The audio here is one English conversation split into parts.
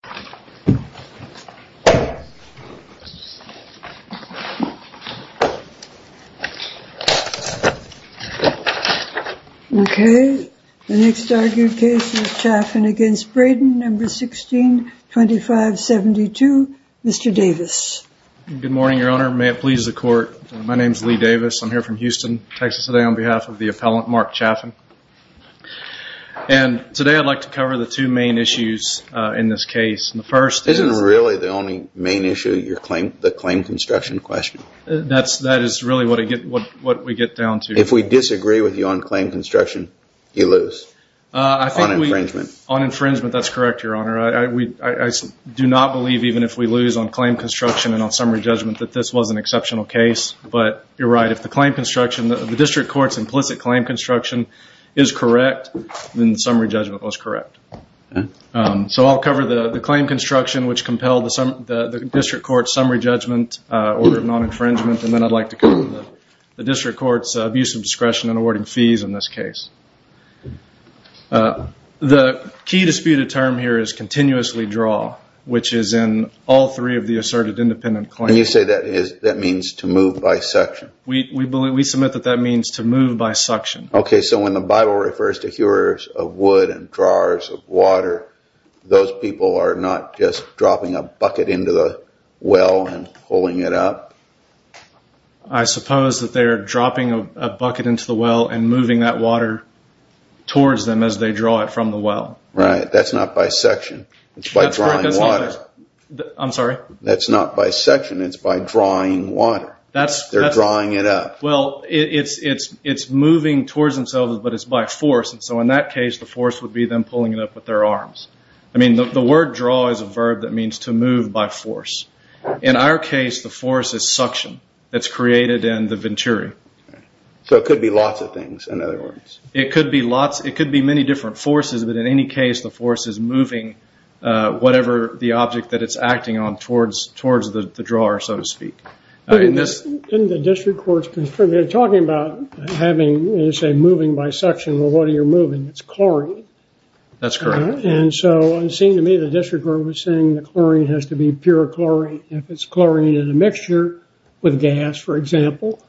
1625.72 Mr. Davis. Good morning your honor. May it please the court. My name is Lee Davis. I'm here from Houston, Texas today on behalf of the appellant Mark Chaffin. And today I'd like to cover the two main issues in this case. And the first isn't really the only main issue your claim the claim construction question. That's that is really what I get what what we get down to. If we disagree with you on claim construction you lose on infringement on infringement. That's correct your honor. We do not believe even if we lose on claim construction and on summary judgment that this was an exceptional case. But you're right if the claim construction of the district court's implicit claim construction is correct then the summary judgment was correct. So I'll cover the the claim construction which compelled the district court summary judgment order of non-infringement and then I'd like to cover the district court's abuse of discretion in awarding fees in this case. The key disputed term here is continuously draw which is in all three of the asserted independent claims. You say that is that means to move by suction. We believe we submit that that means to move by suction. Okay so when the Bible refers to hewers of wood and drawers of water those people are not just dropping a bucket into the well and pulling it up. I suppose that they're dropping a bucket into the well and moving that water towards them as they draw it from the well. Right that's not by section it's by drawing water. I'm sorry. That's not by section it's by drawing water. They're drawing it up. Well it's it's it's moving towards themselves but it's by force and so in that case the force would be them pulling it up with their arms. I mean the word draw is a verb that means to move by force. In our case the force is suction that's created in the venturi. So it could be lots of things in other words. It could be lots it could be many different forces but in any case the force is acting on towards towards the drawer so to speak. In the district courts they're talking about having you say moving by suction well what are you moving? It's chlorine. That's correct. And so it seemed to me the district court was saying the chlorine has to be pure chlorine. If it's chlorine in a mixture with gas for example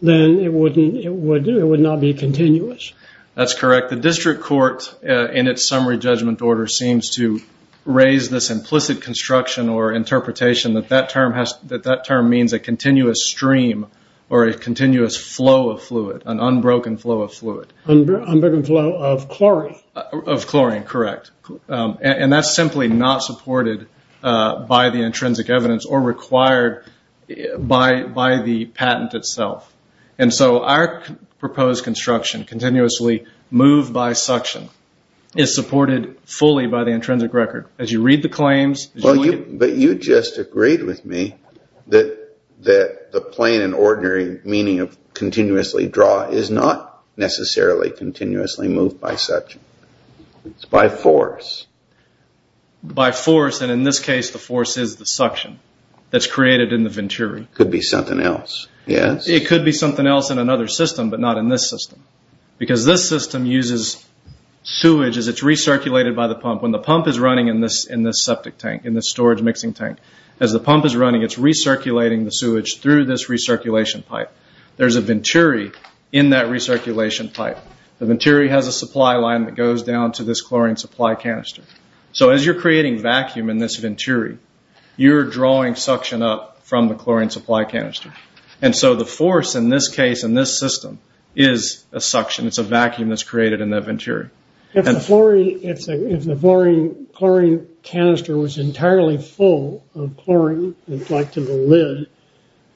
then it wouldn't it would do it would not be continuous. That's correct the district court in its summary judgment order seems to raise this implicit construction or interpretation that that term has that that term means a continuous stream or a continuous flow of fluid an unbroken flow of fluid. Unbroken flow of chlorine. Of chlorine correct. And that's simply not supported by the intrinsic evidence or required by by the patent itself. And so our proposed construction continuously move by suction is supported fully by the intrinsic record. As you read the claims. But you just agreed with me that that the plain and ordinary meaning of continuously draw is not necessarily continuously moved by such. It's by force. By force and in this case the force is the suction that's created in the venturi. Could be something else. Yes. It could be something else in another system but not in this system because this system uses sewage as it's recirculated by the pump when the pump is running in this in this septic tank in the storage mixing tank as the pump is running it's recirculating the sewage through this recirculation pipe. There's a venturi in that recirculation pipe. The venturi has a supply line that goes down to this chlorine supply canister. So as you're creating vacuum in this venturi you're drawing suction up from the chlorine supply canister. And so the force in this case in this system is a suction. It's a vacuum that's created in the venturi. If the chlorine canister was entirely full of chlorine like to the lid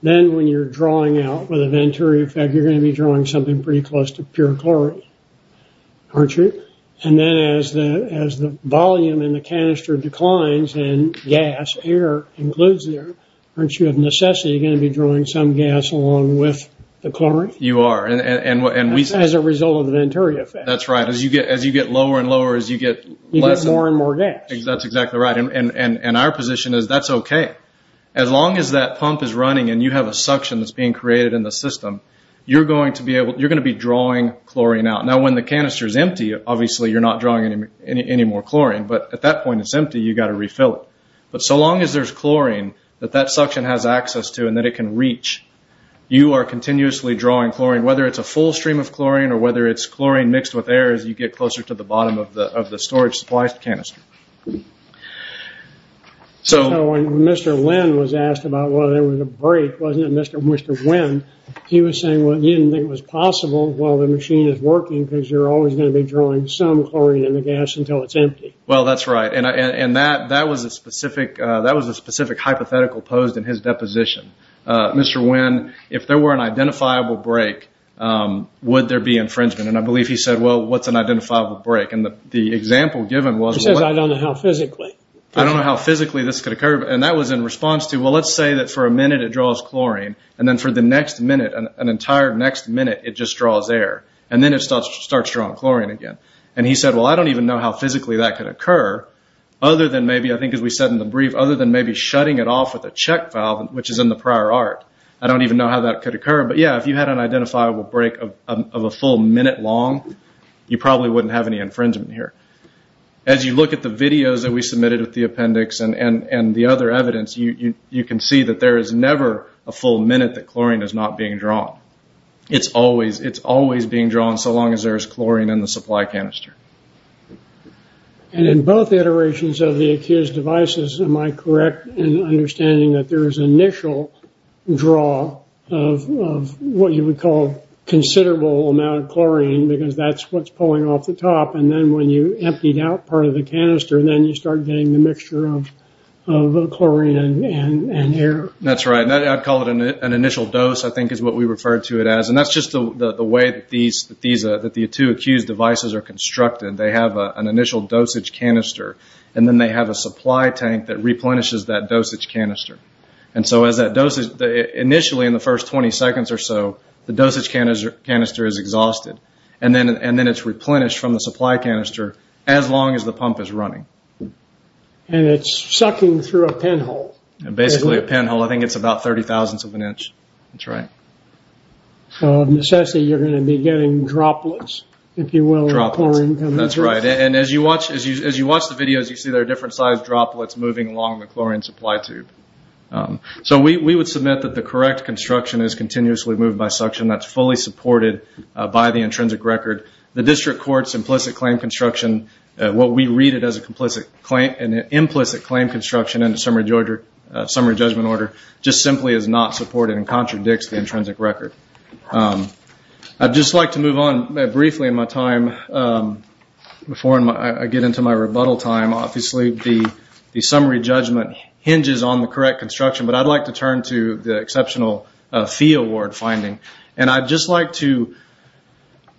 then when you're drawing out with a venturi effect you're going to be drawing something pretty close to pure chlorine. Aren't you? And then as the as the volume in the canister declines and gas air includes air aren't you of necessity going to be drawing some gas along with the chlorine? You are. And as a result of the venturi effect. That's right. As you get as you get lower and lower as you get more and more gas. That's exactly right. And our position is that's okay. As long as that pump is running and you have a suction that's being created in the system you're going to be able you're going to be drawing chlorine out. Now when the canister is empty obviously you're not drawing any more chlorine but at that point it's empty you got to refill it. But so long as there's chlorine that that suction has access to and that it can reach you are continuously drawing chlorine whether it's a full stream of chlorine or whether it's chlorine mixed with air as you get closer to the bottom of the of the storage supplies canister. So when Mr. Lin was asked about whether there was a break wasn't it Mr. Lin he was saying well you didn't think it was possible while the machine is working because you're always going to be drawing some chlorine in the gas until it's empty. Well that's right and I and that that was a specific that was a specific hypothetical posed in his deposition. Mr. Lin if there were an identifiable break would there be infringement and I believe he said well what's an identifiable break and the example given was I don't know how physically I don't know how physically this could occur and that was in response to well let's say that for a minute it draws chlorine and then for the next minute an entire next minute it just draws air and then it starts drawing chlorine again and he said well I don't even know how physically that could occur other than maybe I think as we said in the brief other than maybe shutting it off with a check valve which is in the prior art. I don't even know how that could occur but yeah if you had an identifiable break of a full minute long you probably wouldn't have any infringement here. As you look at the videos that we submitted with the appendix and the other evidence you can see that there is never a full minute that chlorine is not being drawn. It's always being drawn so long as there is chlorine in the supply canister. And in both iterations of the ACQUIUS devices am I correct in understanding that there is initial draw of what you would call considerable amount of chlorine because that's what's pulling off the top and then when you emptied out part of the canister then you start getting the mixture of chlorine and air? That's right. I'd call it an initial dose I think is what we refer to it as and that's just the way that the two ACQUIUS devices are constructed. They have an initial dosage canister and then they have a supply tank that replenishes that dosage canister. Initially in the first 20 seconds or so the dosage canister is exhausted and then it's replenished from the supply canister as long as the pump is running. And it's sucking through a pinhole. Basically a pinhole. I think it's about 30 thousandths of an inch. That's right. So necessarily you're going to be getting droplets if you will of chlorine coming through. That's right. And as you watch the videos you see there are different sized droplets moving along the chlorine supply tube. So we would submit that the correct construction is continuously moved by suction that's fully supported by the intrinsic record. The district courts implicit claim construction, what we read it as an implicit claim construction in the summary judgment order just simply is not supported and contradicts the intrinsic record. I'd just like to move on briefly in my time before I get into my rebuttal time. Obviously the summary judgment hinges on the correct construction but I'd like to turn to the exceptional fee award finding and I'd just like to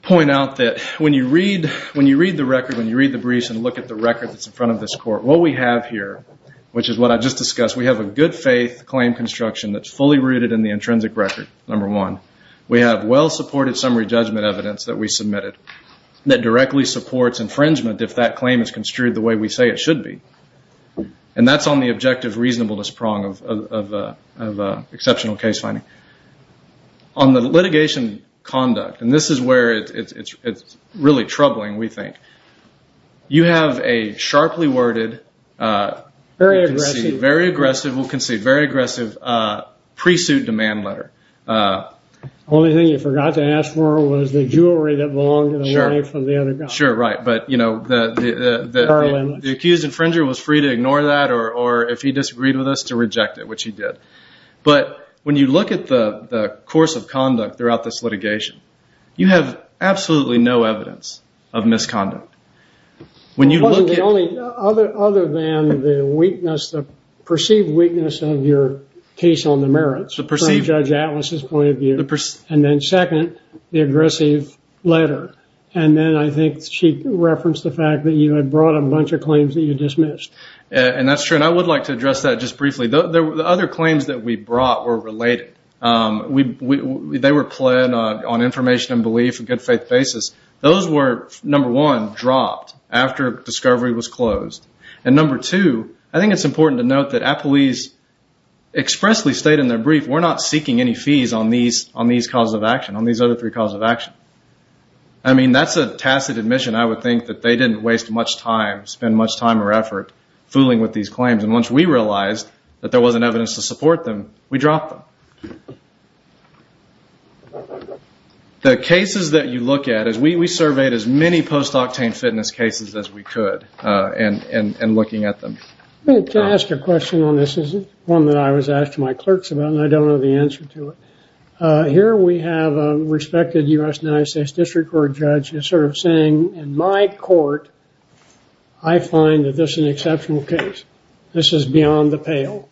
point out that when you read the record, when you read the briefs and look at the record that's in front of this court, what we have here which is what I just discussed, we have a good faith claim construction that's fully rooted in the intrinsic record, number one. We have well supported summary judgment evidence that we submitted that directly supports infringement if that claim is construed the way we say it should be. And that's on the objective reasonableness prong of exceptional case finding. On the litigation conduct, and this is where it's really troubling we think, you have a sharply worded, very aggressive, we'll concede, very aggressive pre-suit demand letter. The only thing you forgot to ask for was the jewelry that belonged to the wife of the other guy. I'm not sure, right, but the accused infringer was free to ignore that or if he disagreed with us to reject it, which he did. But when you look at the course of conduct throughout this litigation, you have absolutely no evidence of misconduct. When you look at- Other than the weakness, the perceived weakness of your case on the merits from Judge Atlas's point of view. And then second, the aggressive letter. And then I think she referenced the fact that you had brought a bunch of claims that you dismissed. And that's true. And I would like to address that just briefly. The other claims that we brought were related. They were pled on information and belief, a good faith basis. Those were, number one, dropped after discovery was closed. And number two, I think it's important to note that Appleese expressly stated in their on these cause of action, on these other three cause of action. I mean, that's a tacit admission. I would think that they didn't waste much time, spend much time or effort fooling with these claims. And once we realized that there wasn't evidence to support them, we dropped them. The cases that you look at, we surveyed as many post-octane fitness cases as we could in looking at them. Can I ask a question on this? This is one that I was asked to my clerks about, and I don't know the answer to it. Here we have a respected U.S. and United States District Court judge sort of saying, in my court, I find that this is an exceptional case. This is beyond the pale.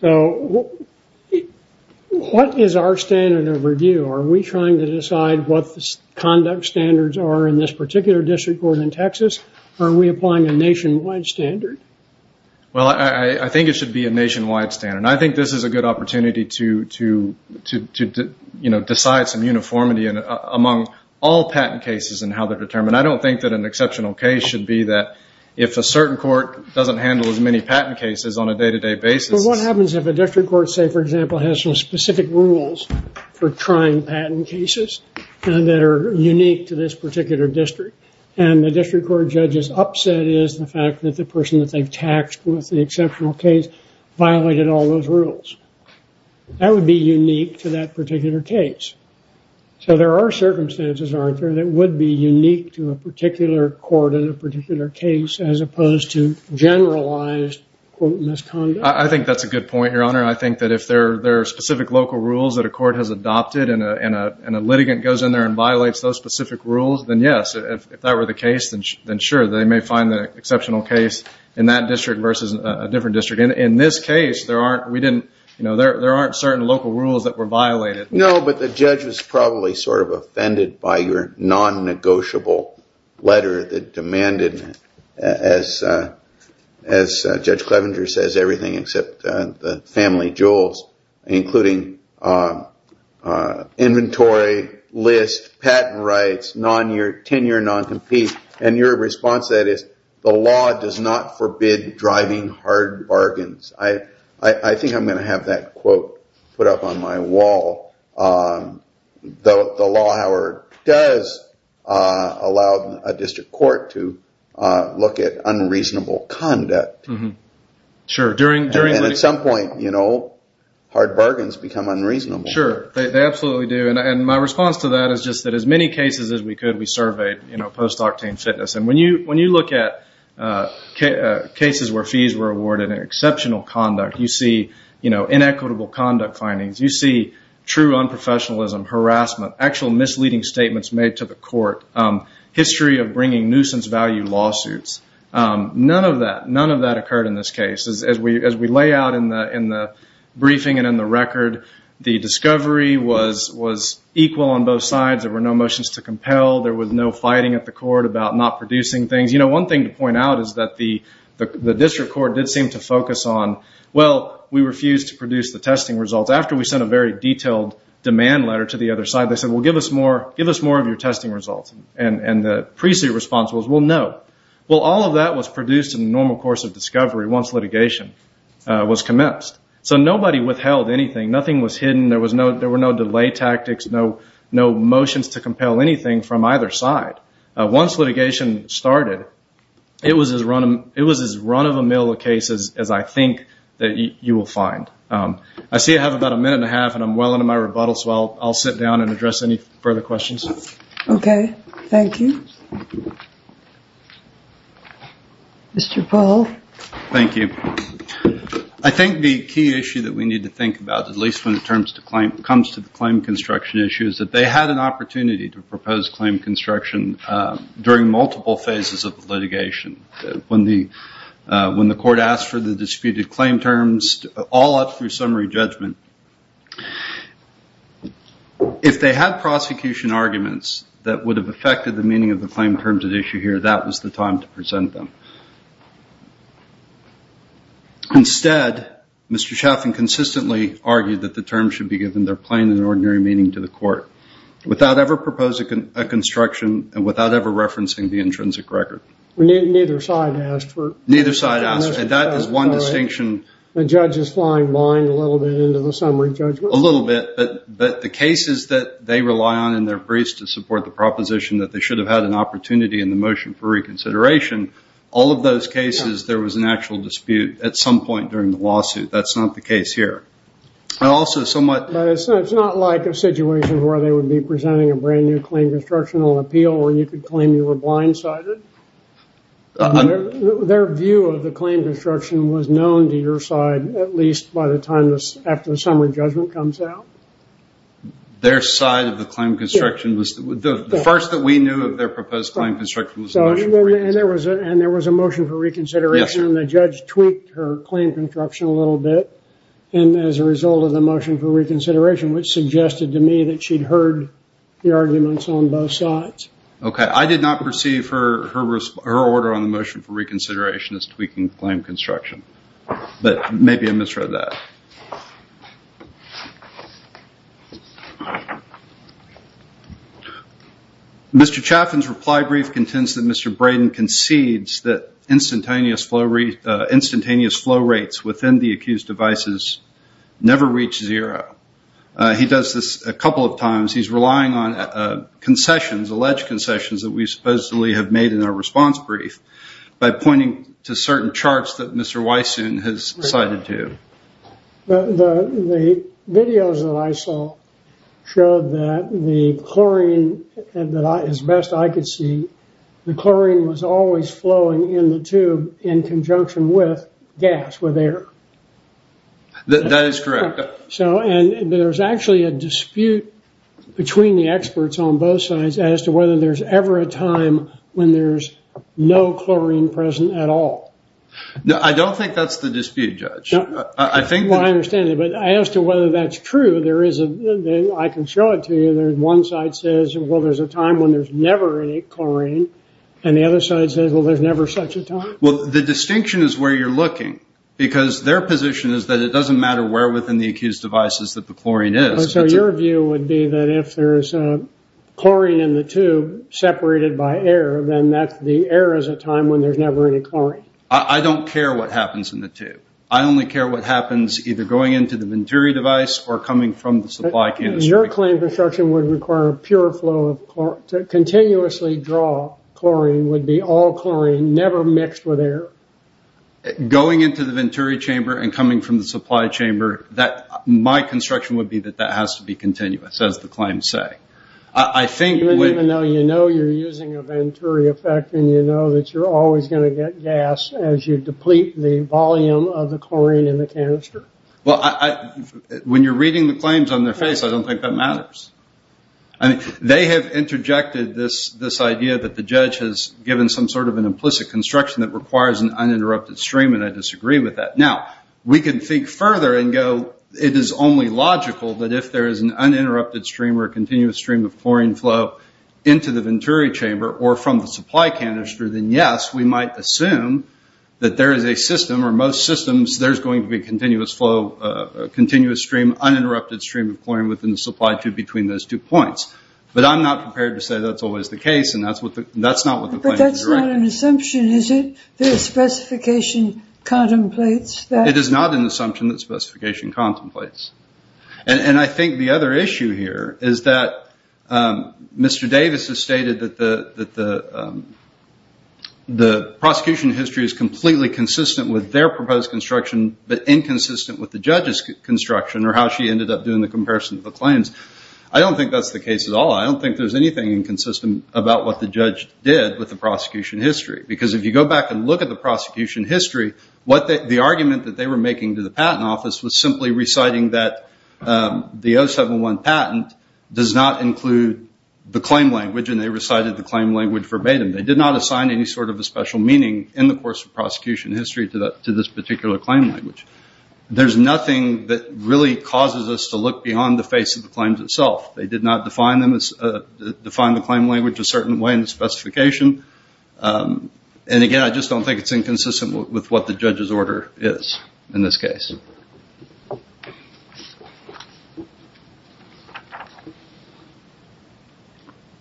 So what is our standard of review? Are we trying to decide what the conduct standards are in this particular district court in Texas? Are we applying a nationwide standard? Well, I think it should be a nationwide standard. And I think this is a good opportunity to decide some uniformity among all patent cases and how they're determined. I don't think that an exceptional case should be that if a certain court doesn't handle as many patent cases on a day-to-day basis. But what happens if a district court, say, for example, has some specific rules for trying patent cases that are unique to this particular district? And the district court judge's upset is the fact that the person that they've taxed with the exceptional case violated all those rules. That would be unique to that particular case. So there are circumstances, Arthur, that would be unique to a particular court in a particular case as opposed to generalized, quote, misconduct. I think that's a good point, Your Honor. I think that if there are specific local rules that a court has adopted and a litigant goes in there and violates those specific rules, then yes, if that were the case, then sure, they may find the exceptional case in that district versus a different district. In this case, there aren't certain local rules that were violated. No, but the judge was probably sort of offended by your non-negotiable letter that demanded, as Judge Clevenger says, everything except the family jewels, including inventory, list, patent rights, tenure non-compete. And your response to that is, the law does not forbid driving hard bargains. I think I'm going to have that quote put up on my wall. The law, however, does allow a district court to look at unreasonable conduct. Sure. And at some point, you know, hard bargains become unreasonable. Sure. They absolutely do. And my response to that is just that as many cases as we could, we surveyed post-octane fitness. And when you look at cases where fees were awarded in exceptional conduct, you see inequitable conduct findings, you see true unprofessionalism, harassment, actual misleading statements made to the court, history of bringing nuisance value lawsuits, none of that, none of that occurred in this case. As we lay out in the briefing and in the record, the discovery was equal on both sides. There were no motions to compel. There was no fighting at the court about not producing things. You know, one thing to point out is that the district court did seem to focus on, well, we refused to produce the testing results. After we sent a very detailed demand letter to the other side, they said, well, give us more of your testing results. And the pre-suit response was, well, no. Well, all of that was produced in the normal course of discovery once litigation was commenced. So nobody withheld anything. Nothing was hidden. There were no delay tactics, no motions to compel anything from either side. Once litigation started, it was as run-of-the-mill a case as I think that you will find. I see I have about a minute and a half, and I'm well into my rebuttal, so I'll sit down and address any further questions. Okay. Thank you. Mr. Paul. Thank you. I think the key issue that we need to think about, at least when it comes to the claim construction issue, is that they had an opportunity to propose claim construction during multiple phases of the litigation. When the court asked for the disputed claim terms, all up through summary judgment, if they had prosecution arguments that would have affected the meaning of the claim terms at issue here, that was the time to present them. Instead, Mr. Chaffin consistently argued that the terms should be given their plain and necessary meaning to the court without ever proposing a construction and without ever referencing the intrinsic record. Neither side asked for it. Neither side asked for it. That is one distinction. The judge is flying blind a little bit into the summary judgment. A little bit, but the cases that they rely on in their briefs to support the proposition that they should have had an opportunity in the motion for reconsideration, all of those cases there was an actual dispute at some point during the lawsuit. That's not the case here. It's not like a situation where they would be presenting a brand new claim construction on appeal or you could claim you were blindsided. Their view of the claim construction was known to your side at least by the time after the summary judgment comes out. Their side of the claim construction, the first that we knew of their proposed claim construction was the motion for reconsideration. There was a motion for reconsideration and the judge tweaked her claim construction a motion for reconsideration which suggested to me that she had heard the arguments on both sides. Okay. I did not perceive her order on the motion for reconsideration as tweaking claim construction, but maybe I misread that. Mr. Chaffin's reply brief contends that Mr. Braden concedes that instantaneous flow rates within the accused devices never reach zero. He does this a couple of times. He's relying on concessions, alleged concessions that we supposedly have made in our response brief by pointing to certain charts that Mr. Wysoon has cited to. The videos that I saw showed that the chlorine, as best I could see, the chlorine was always flowing in the tube in conjunction with gas, with air. That is correct. There's actually a dispute between the experts on both sides as to whether there's ever a time when there's no chlorine present at all. I don't think that's the dispute, Judge. I think that- Well, I understand that, but as to whether that's true, I can show it to you. One side says, well, there's a time when there's never any chlorine and the other side says, well, there's never such a time. Well, the distinction is where you're looking because their position is that it doesn't matter where within the accused devices that the chlorine is. Your view would be that if there's chlorine in the tube separated by air, then that's the air is a time when there's never any chlorine. I don't care what happens in the tube. I only care what happens either going into the Venturi device or coming from the supply canister. Your claim construction would require a pure flow of chlorine, to continuously draw chlorine would be all chlorine, never mixed with air. Going into the Venturi chamber and coming from the supply chamber, my construction would be that that has to be continuous, as the claims say. I think- Even though you know you're using a Venturi effect and you know that you're always going to get gas as you deplete the volume of the chlorine in the canister? When you're reading the claims on their face, I don't think that matters. I mean, they have interjected this idea that the judge has given some sort of an implicit construction that requires an uninterrupted stream, and I disagree with that. Now, we can think further and go, it is only logical that if there is an uninterrupted stream or a continuous stream of chlorine flow into the Venturi chamber or from the supply canister, then yes, we might assume that there is a system or most systems, there's going to be a continuous stream, uninterrupted stream of chlorine within the supply tube between those two points. But I'm not prepared to say that's always the case, and that's not what the claims are directing. But that's not an assumption, is it? That specification contemplates that? It is not an assumption that specification contemplates. And I think the other issue here is that Mr. Davis has stated that the prosecution history is completely consistent with their proposed construction, but inconsistent with the judge's claims. I don't think that's the case at all. I don't think there's anything inconsistent about what the judge did with the prosecution history. Because if you go back and look at the prosecution history, the argument that they were making to the patent office was simply reciting that the 071 patent does not include the claim language, and they recited the claim language verbatim. They did not assign any sort of a special meaning in the course of prosecution history to this particular claim language. There's nothing that really causes us to look beyond the face of the claims itself. They did not define the claim language a certain way in the specification. And again, I just don't think it's inconsistent with what the judge's order is in this case.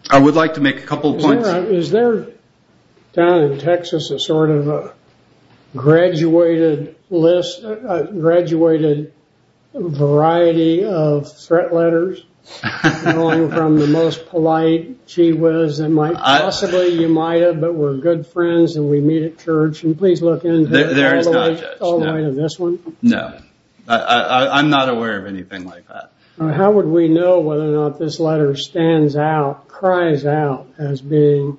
I would like to make a couple of points. Is there, down in Texas, a sort of a graduated list, a graduated variety of threat letters going from the most polite, gee whiz, and possibly you might have, but we're good friends and we meet at church. And please look into it all the way to this one. No. I'm not aware of anything like that. How would we know whether or not this letter stands out, cries out, as being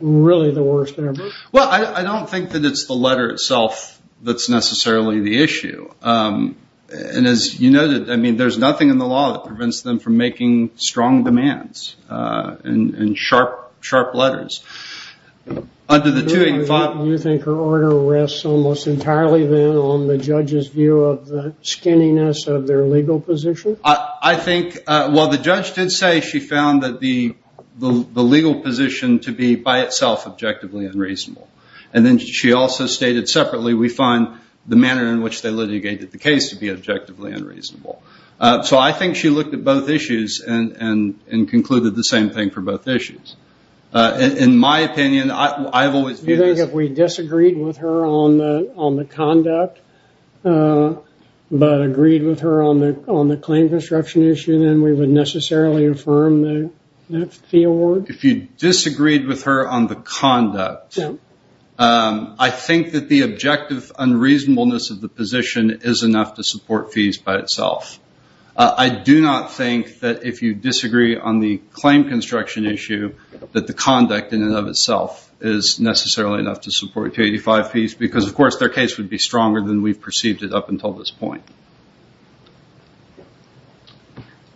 really the worst ever? Well, I don't think that it's the letter itself that's necessarily the issue. And as you noted, I mean, there's nothing in the law that prevents them from making strong demands and sharp, sharp letters. Under the 285. You think her order rests almost entirely then on the judge's view of the skinniness of their legal position? I think, well, the judge did say she found that the legal position to be by itself objectively unreasonable. And then she also stated separately, we find the manner in which they litigated the case to be objectively unreasonable. So I think she looked at both issues and concluded the same thing for both issues. In my opinion, I've always viewed it as- But agreed with her on the claim construction issue, then we would necessarily affirm the award? If you disagreed with her on the conduct, I think that the objective unreasonableness of the position is enough to support fees by itself. I do not think that if you disagree on the claim construction issue, that the conduct in and of itself is necessarily enough to support 285 fees. Because of course, their case would be stronger than we've perceived it up until this point.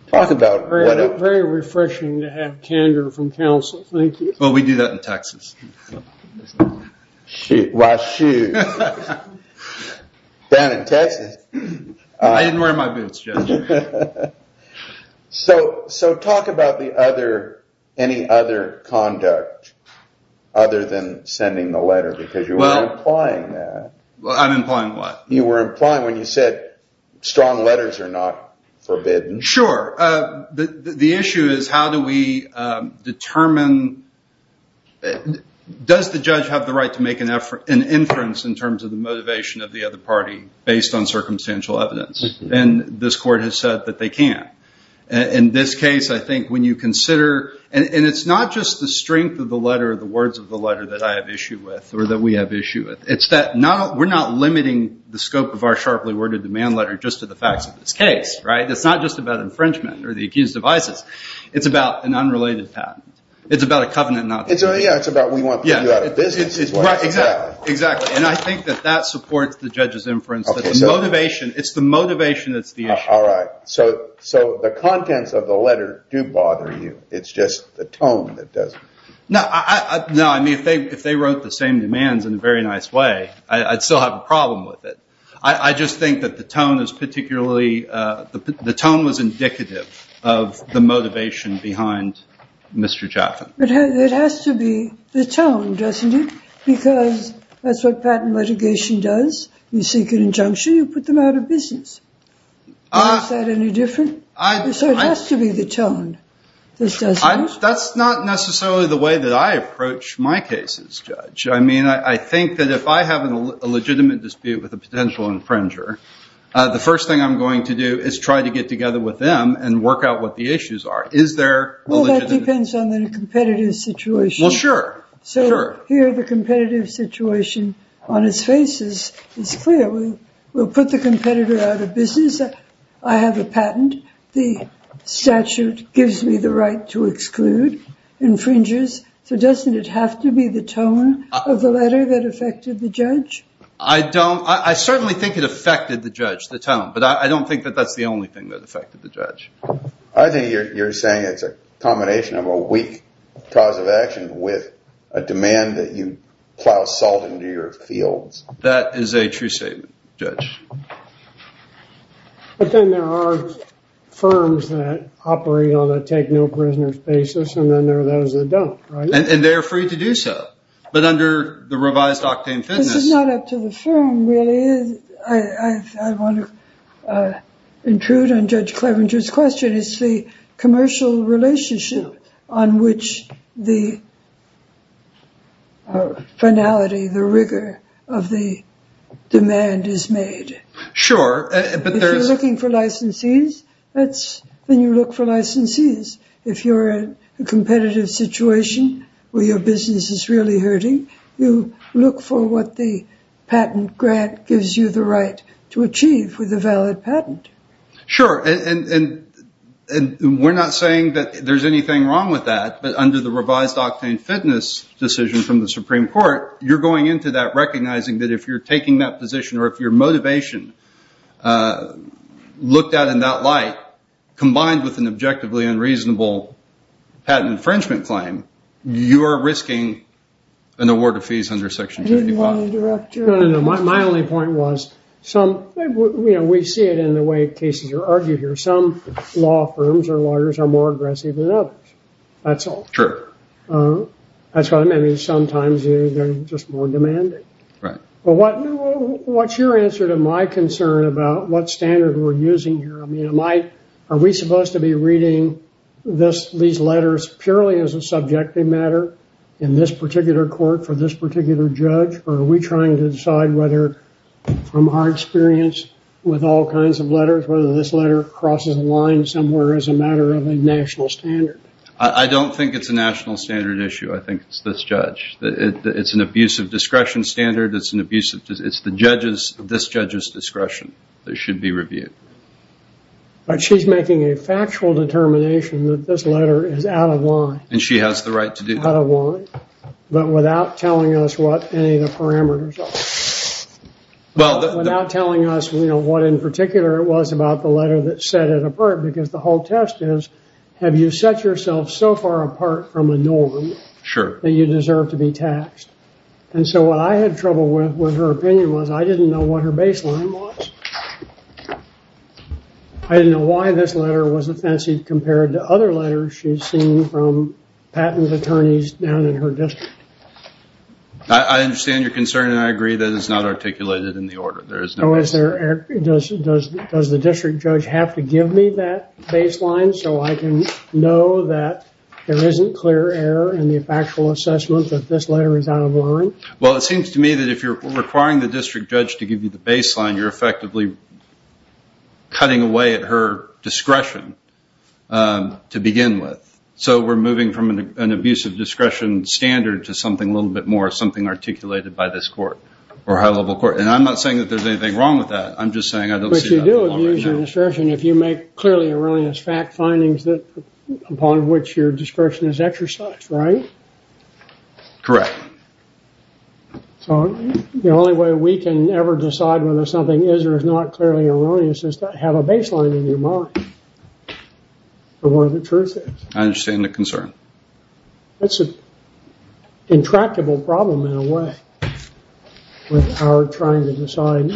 Talk about what a- Very refreshing to have candor from counsel. Thank you. Well, we do that in Texas. Why, shoot. Down in Texas. I didn't wear my boots, Judge. So talk about the other, any other conduct other than sending the letter because you were implying that. Well, I'm implying what? You were implying when you said strong letters are not forbidden. Sure. The issue is how do we determine, does the judge have the right to make an inference in terms of the motivation of the other party based on circumstantial evidence? And this court has said that they can't. In this case, I think when you consider, and it's not just the strength of the letter, the words of the letter that I have issue with or that we have issue with, it's that we're not limiting the scope of our sharply worded demand letter just to the facts of this case. Right? It's not just about infringement or the accused of ISIS. It's about an unrelated patent. It's about a covenant. Yeah. It's about we want to figure out a business. Right. Exactly. Exactly. And I think that that supports the judge's inference that the motivation, it's the motivation that's the issue. All right. So the contents of the letter do bother you. It's just the tone that doesn't. No. No. I mean, if they wrote the same demands in a very nice way, I'd still have a problem with it. I just think that the tone is particularly, the tone was indicative of the motivation behind Mr. Jaffin. It has to be the tone, doesn't it? Because that's what patent litigation does. You seek an injunction, you put them out of business. Is that any different? So it has to be the tone. This doesn't? That's not necessarily the way that I approach my cases, Judge. I mean, I think that if I have an illegitimate dispute with a potential infringer, the first thing I'm going to do is try to get together with them and work out what the issues are. Is there a legitimate? Well, that depends on the competitive situation. Well, sure. Sure. So here, the competitive situation on its face is clear. We'll put the competitor out of business. I have a patent. The statute gives me the right to exclude infringers. So doesn't it have to be the tone of the letter that affected the judge? I don't, I certainly think it affected the judge, the tone. But I don't think that that's the only thing that affected the judge. I think you're saying it's a combination of a weak cause of action with a demand that you plow salt into your fields. That is a true statement, Judge. But then there are firms that operate on a take-no-prisoners basis, and then there are those that don't, right? And they are free to do so. But under the revised octane fitness... This is not up to the firm, really. I want to intrude on Judge Clevenger's question. It's the commercial relationship on which the finality, the rigor of the demand is made. Sure, but there's... If you're looking for licensees, then you look for licensees. If you're in a competitive situation where your business is really hurting, you look for what the patent grant gives you the right to achieve with a valid patent. Sure, and we're not saying that there's anything wrong with that. But under the revised octane fitness decision from the Supreme Court, you're going into that recognizing that if you're taking that position or if your motivation looked out in that light, combined with an objectively unreasonable patent infringement claim, you are risking an award of fees under Section 25. I didn't want to interrupt your... No, no, no. My only point was, we see it in the way cases are argued here. Some law firms or lawyers are more aggressive than others. That's all. Sure. That's why sometimes they're just more demanding. Right. What's your answer to my concern about what standard we're using here? Are we supposed to be reading these letters purely as a subjective matter in this particular court for this particular judge? Are we trying to decide whether, from our experience with all kinds of letters, whether this letter crosses a line somewhere as a matter of a national standard? I don't think it's a national standard issue. I think it's this judge. It's an abuse of discretion standard. It's the judge's discretion that should be reviewed. But she's making a factual determination that this letter is out of line. And she has the right to do that. Out of line. But without telling us what any of the parameters are. Without telling us what, in particular, it was about the letter that set it apart. Because the whole test is, have you set yourself so far apart from a norm that you deserve to be taxed? And so what I had trouble with, with her opinion, was I didn't know what her baseline was. I didn't know why this letter was offensive compared to other letters she's seen from patent attorneys down in her district. I understand your concern and I agree that it's not articulated in the order. Does the district judge have to give me that baseline so I can know that there isn't clear error in the factual assessment that this letter is out of line? Well, it seems to me that if you're requiring the district judge to give you the baseline, you're effectively cutting away at her discretion to begin with. So we're moving from an abusive discretion standard to something a little bit more, something articulated by this court or high-level court. And I'm not saying that there's anything wrong with that. I'm just saying I don't see that. But you do abuse your discretion if you make clearly erroneous fact findings upon which your discretion is exercised, right? Correct. So the only way we can ever decide whether something is or is not clearly erroneous is to have a baseline in your mind for what the truth is. I understand the concern. That's an intractable problem in a way with our trying to decide.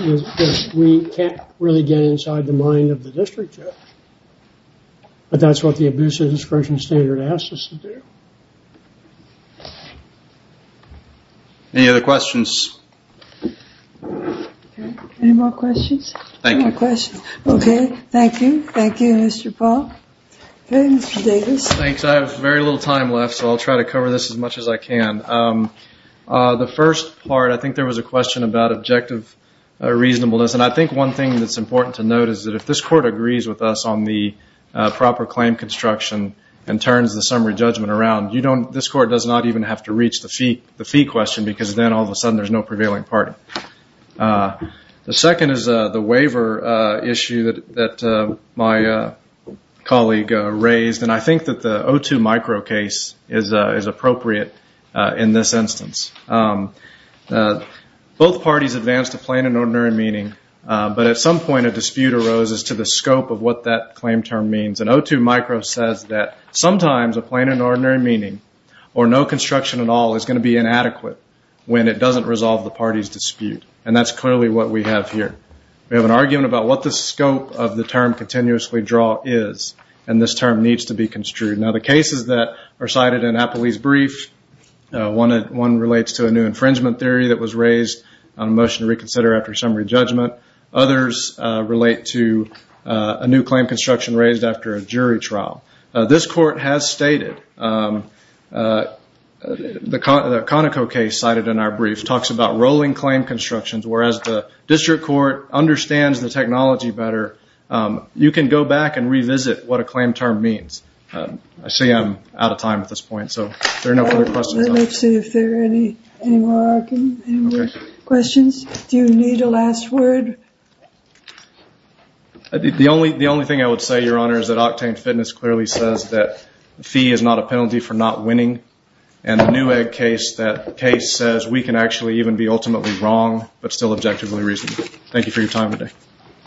We can't really get inside the mind of the district judge. But that's what the abusive discretion standard asks us to do. Any other questions? Any more questions? Thank you. Okay. Thank you. Thank you, Mr. Paul. Okay, Mr. Davis. Thanks. I have very little time left, so I'll try to cover this as much as I can. The first part, I think there was a question about objective reasonableness. And I think one thing that's important to note is that if this court agrees with us on the proper claim construction and turns the summary judgment around, this court does not even have to reach the fee question because then all of a sudden there's no prevailing party. The second is the waiver issue that my colleague raised, and I think that the O2 micro case is appropriate in this instance. Both parties advanced a plain and ordinary meaning, but at some point a dispute arose as to the scope of what that claim term means. And O2 micro says that sometimes a plain and ordinary meaning or no construction at all is going to be inadequate when it doesn't resolve the party's dispute, and that's clearly what we have here. We have an argument about what the scope of the term continuously draw is, and this term needs to be construed. Now, the cases that are cited in Appley's brief, one relates to a new infringement theory that was raised on a motion to reconsider after summary judgment. Others relate to a new claim construction raised after a jury trial. This court has stated, the Conoco case cited in our brief talks about rolling claim constructions, whereas the district court understands the technology better. You can go back and revisit what a claim term means. I see I'm out of time at this point, so if there are no further questions. Let me see if there are any more questions. Do you need a last word? The only thing I would say, Your Honor, is that Octane Fitness clearly says that fee is not a penalty for not winning, and the Newegg case, that case says we can actually even be ultimately wrong but still objectively reasonable. Thank you for your time today.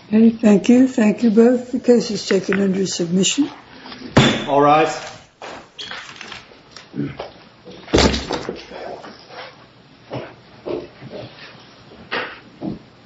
Thank you. Thank you both. The case is taken under submission. All rise.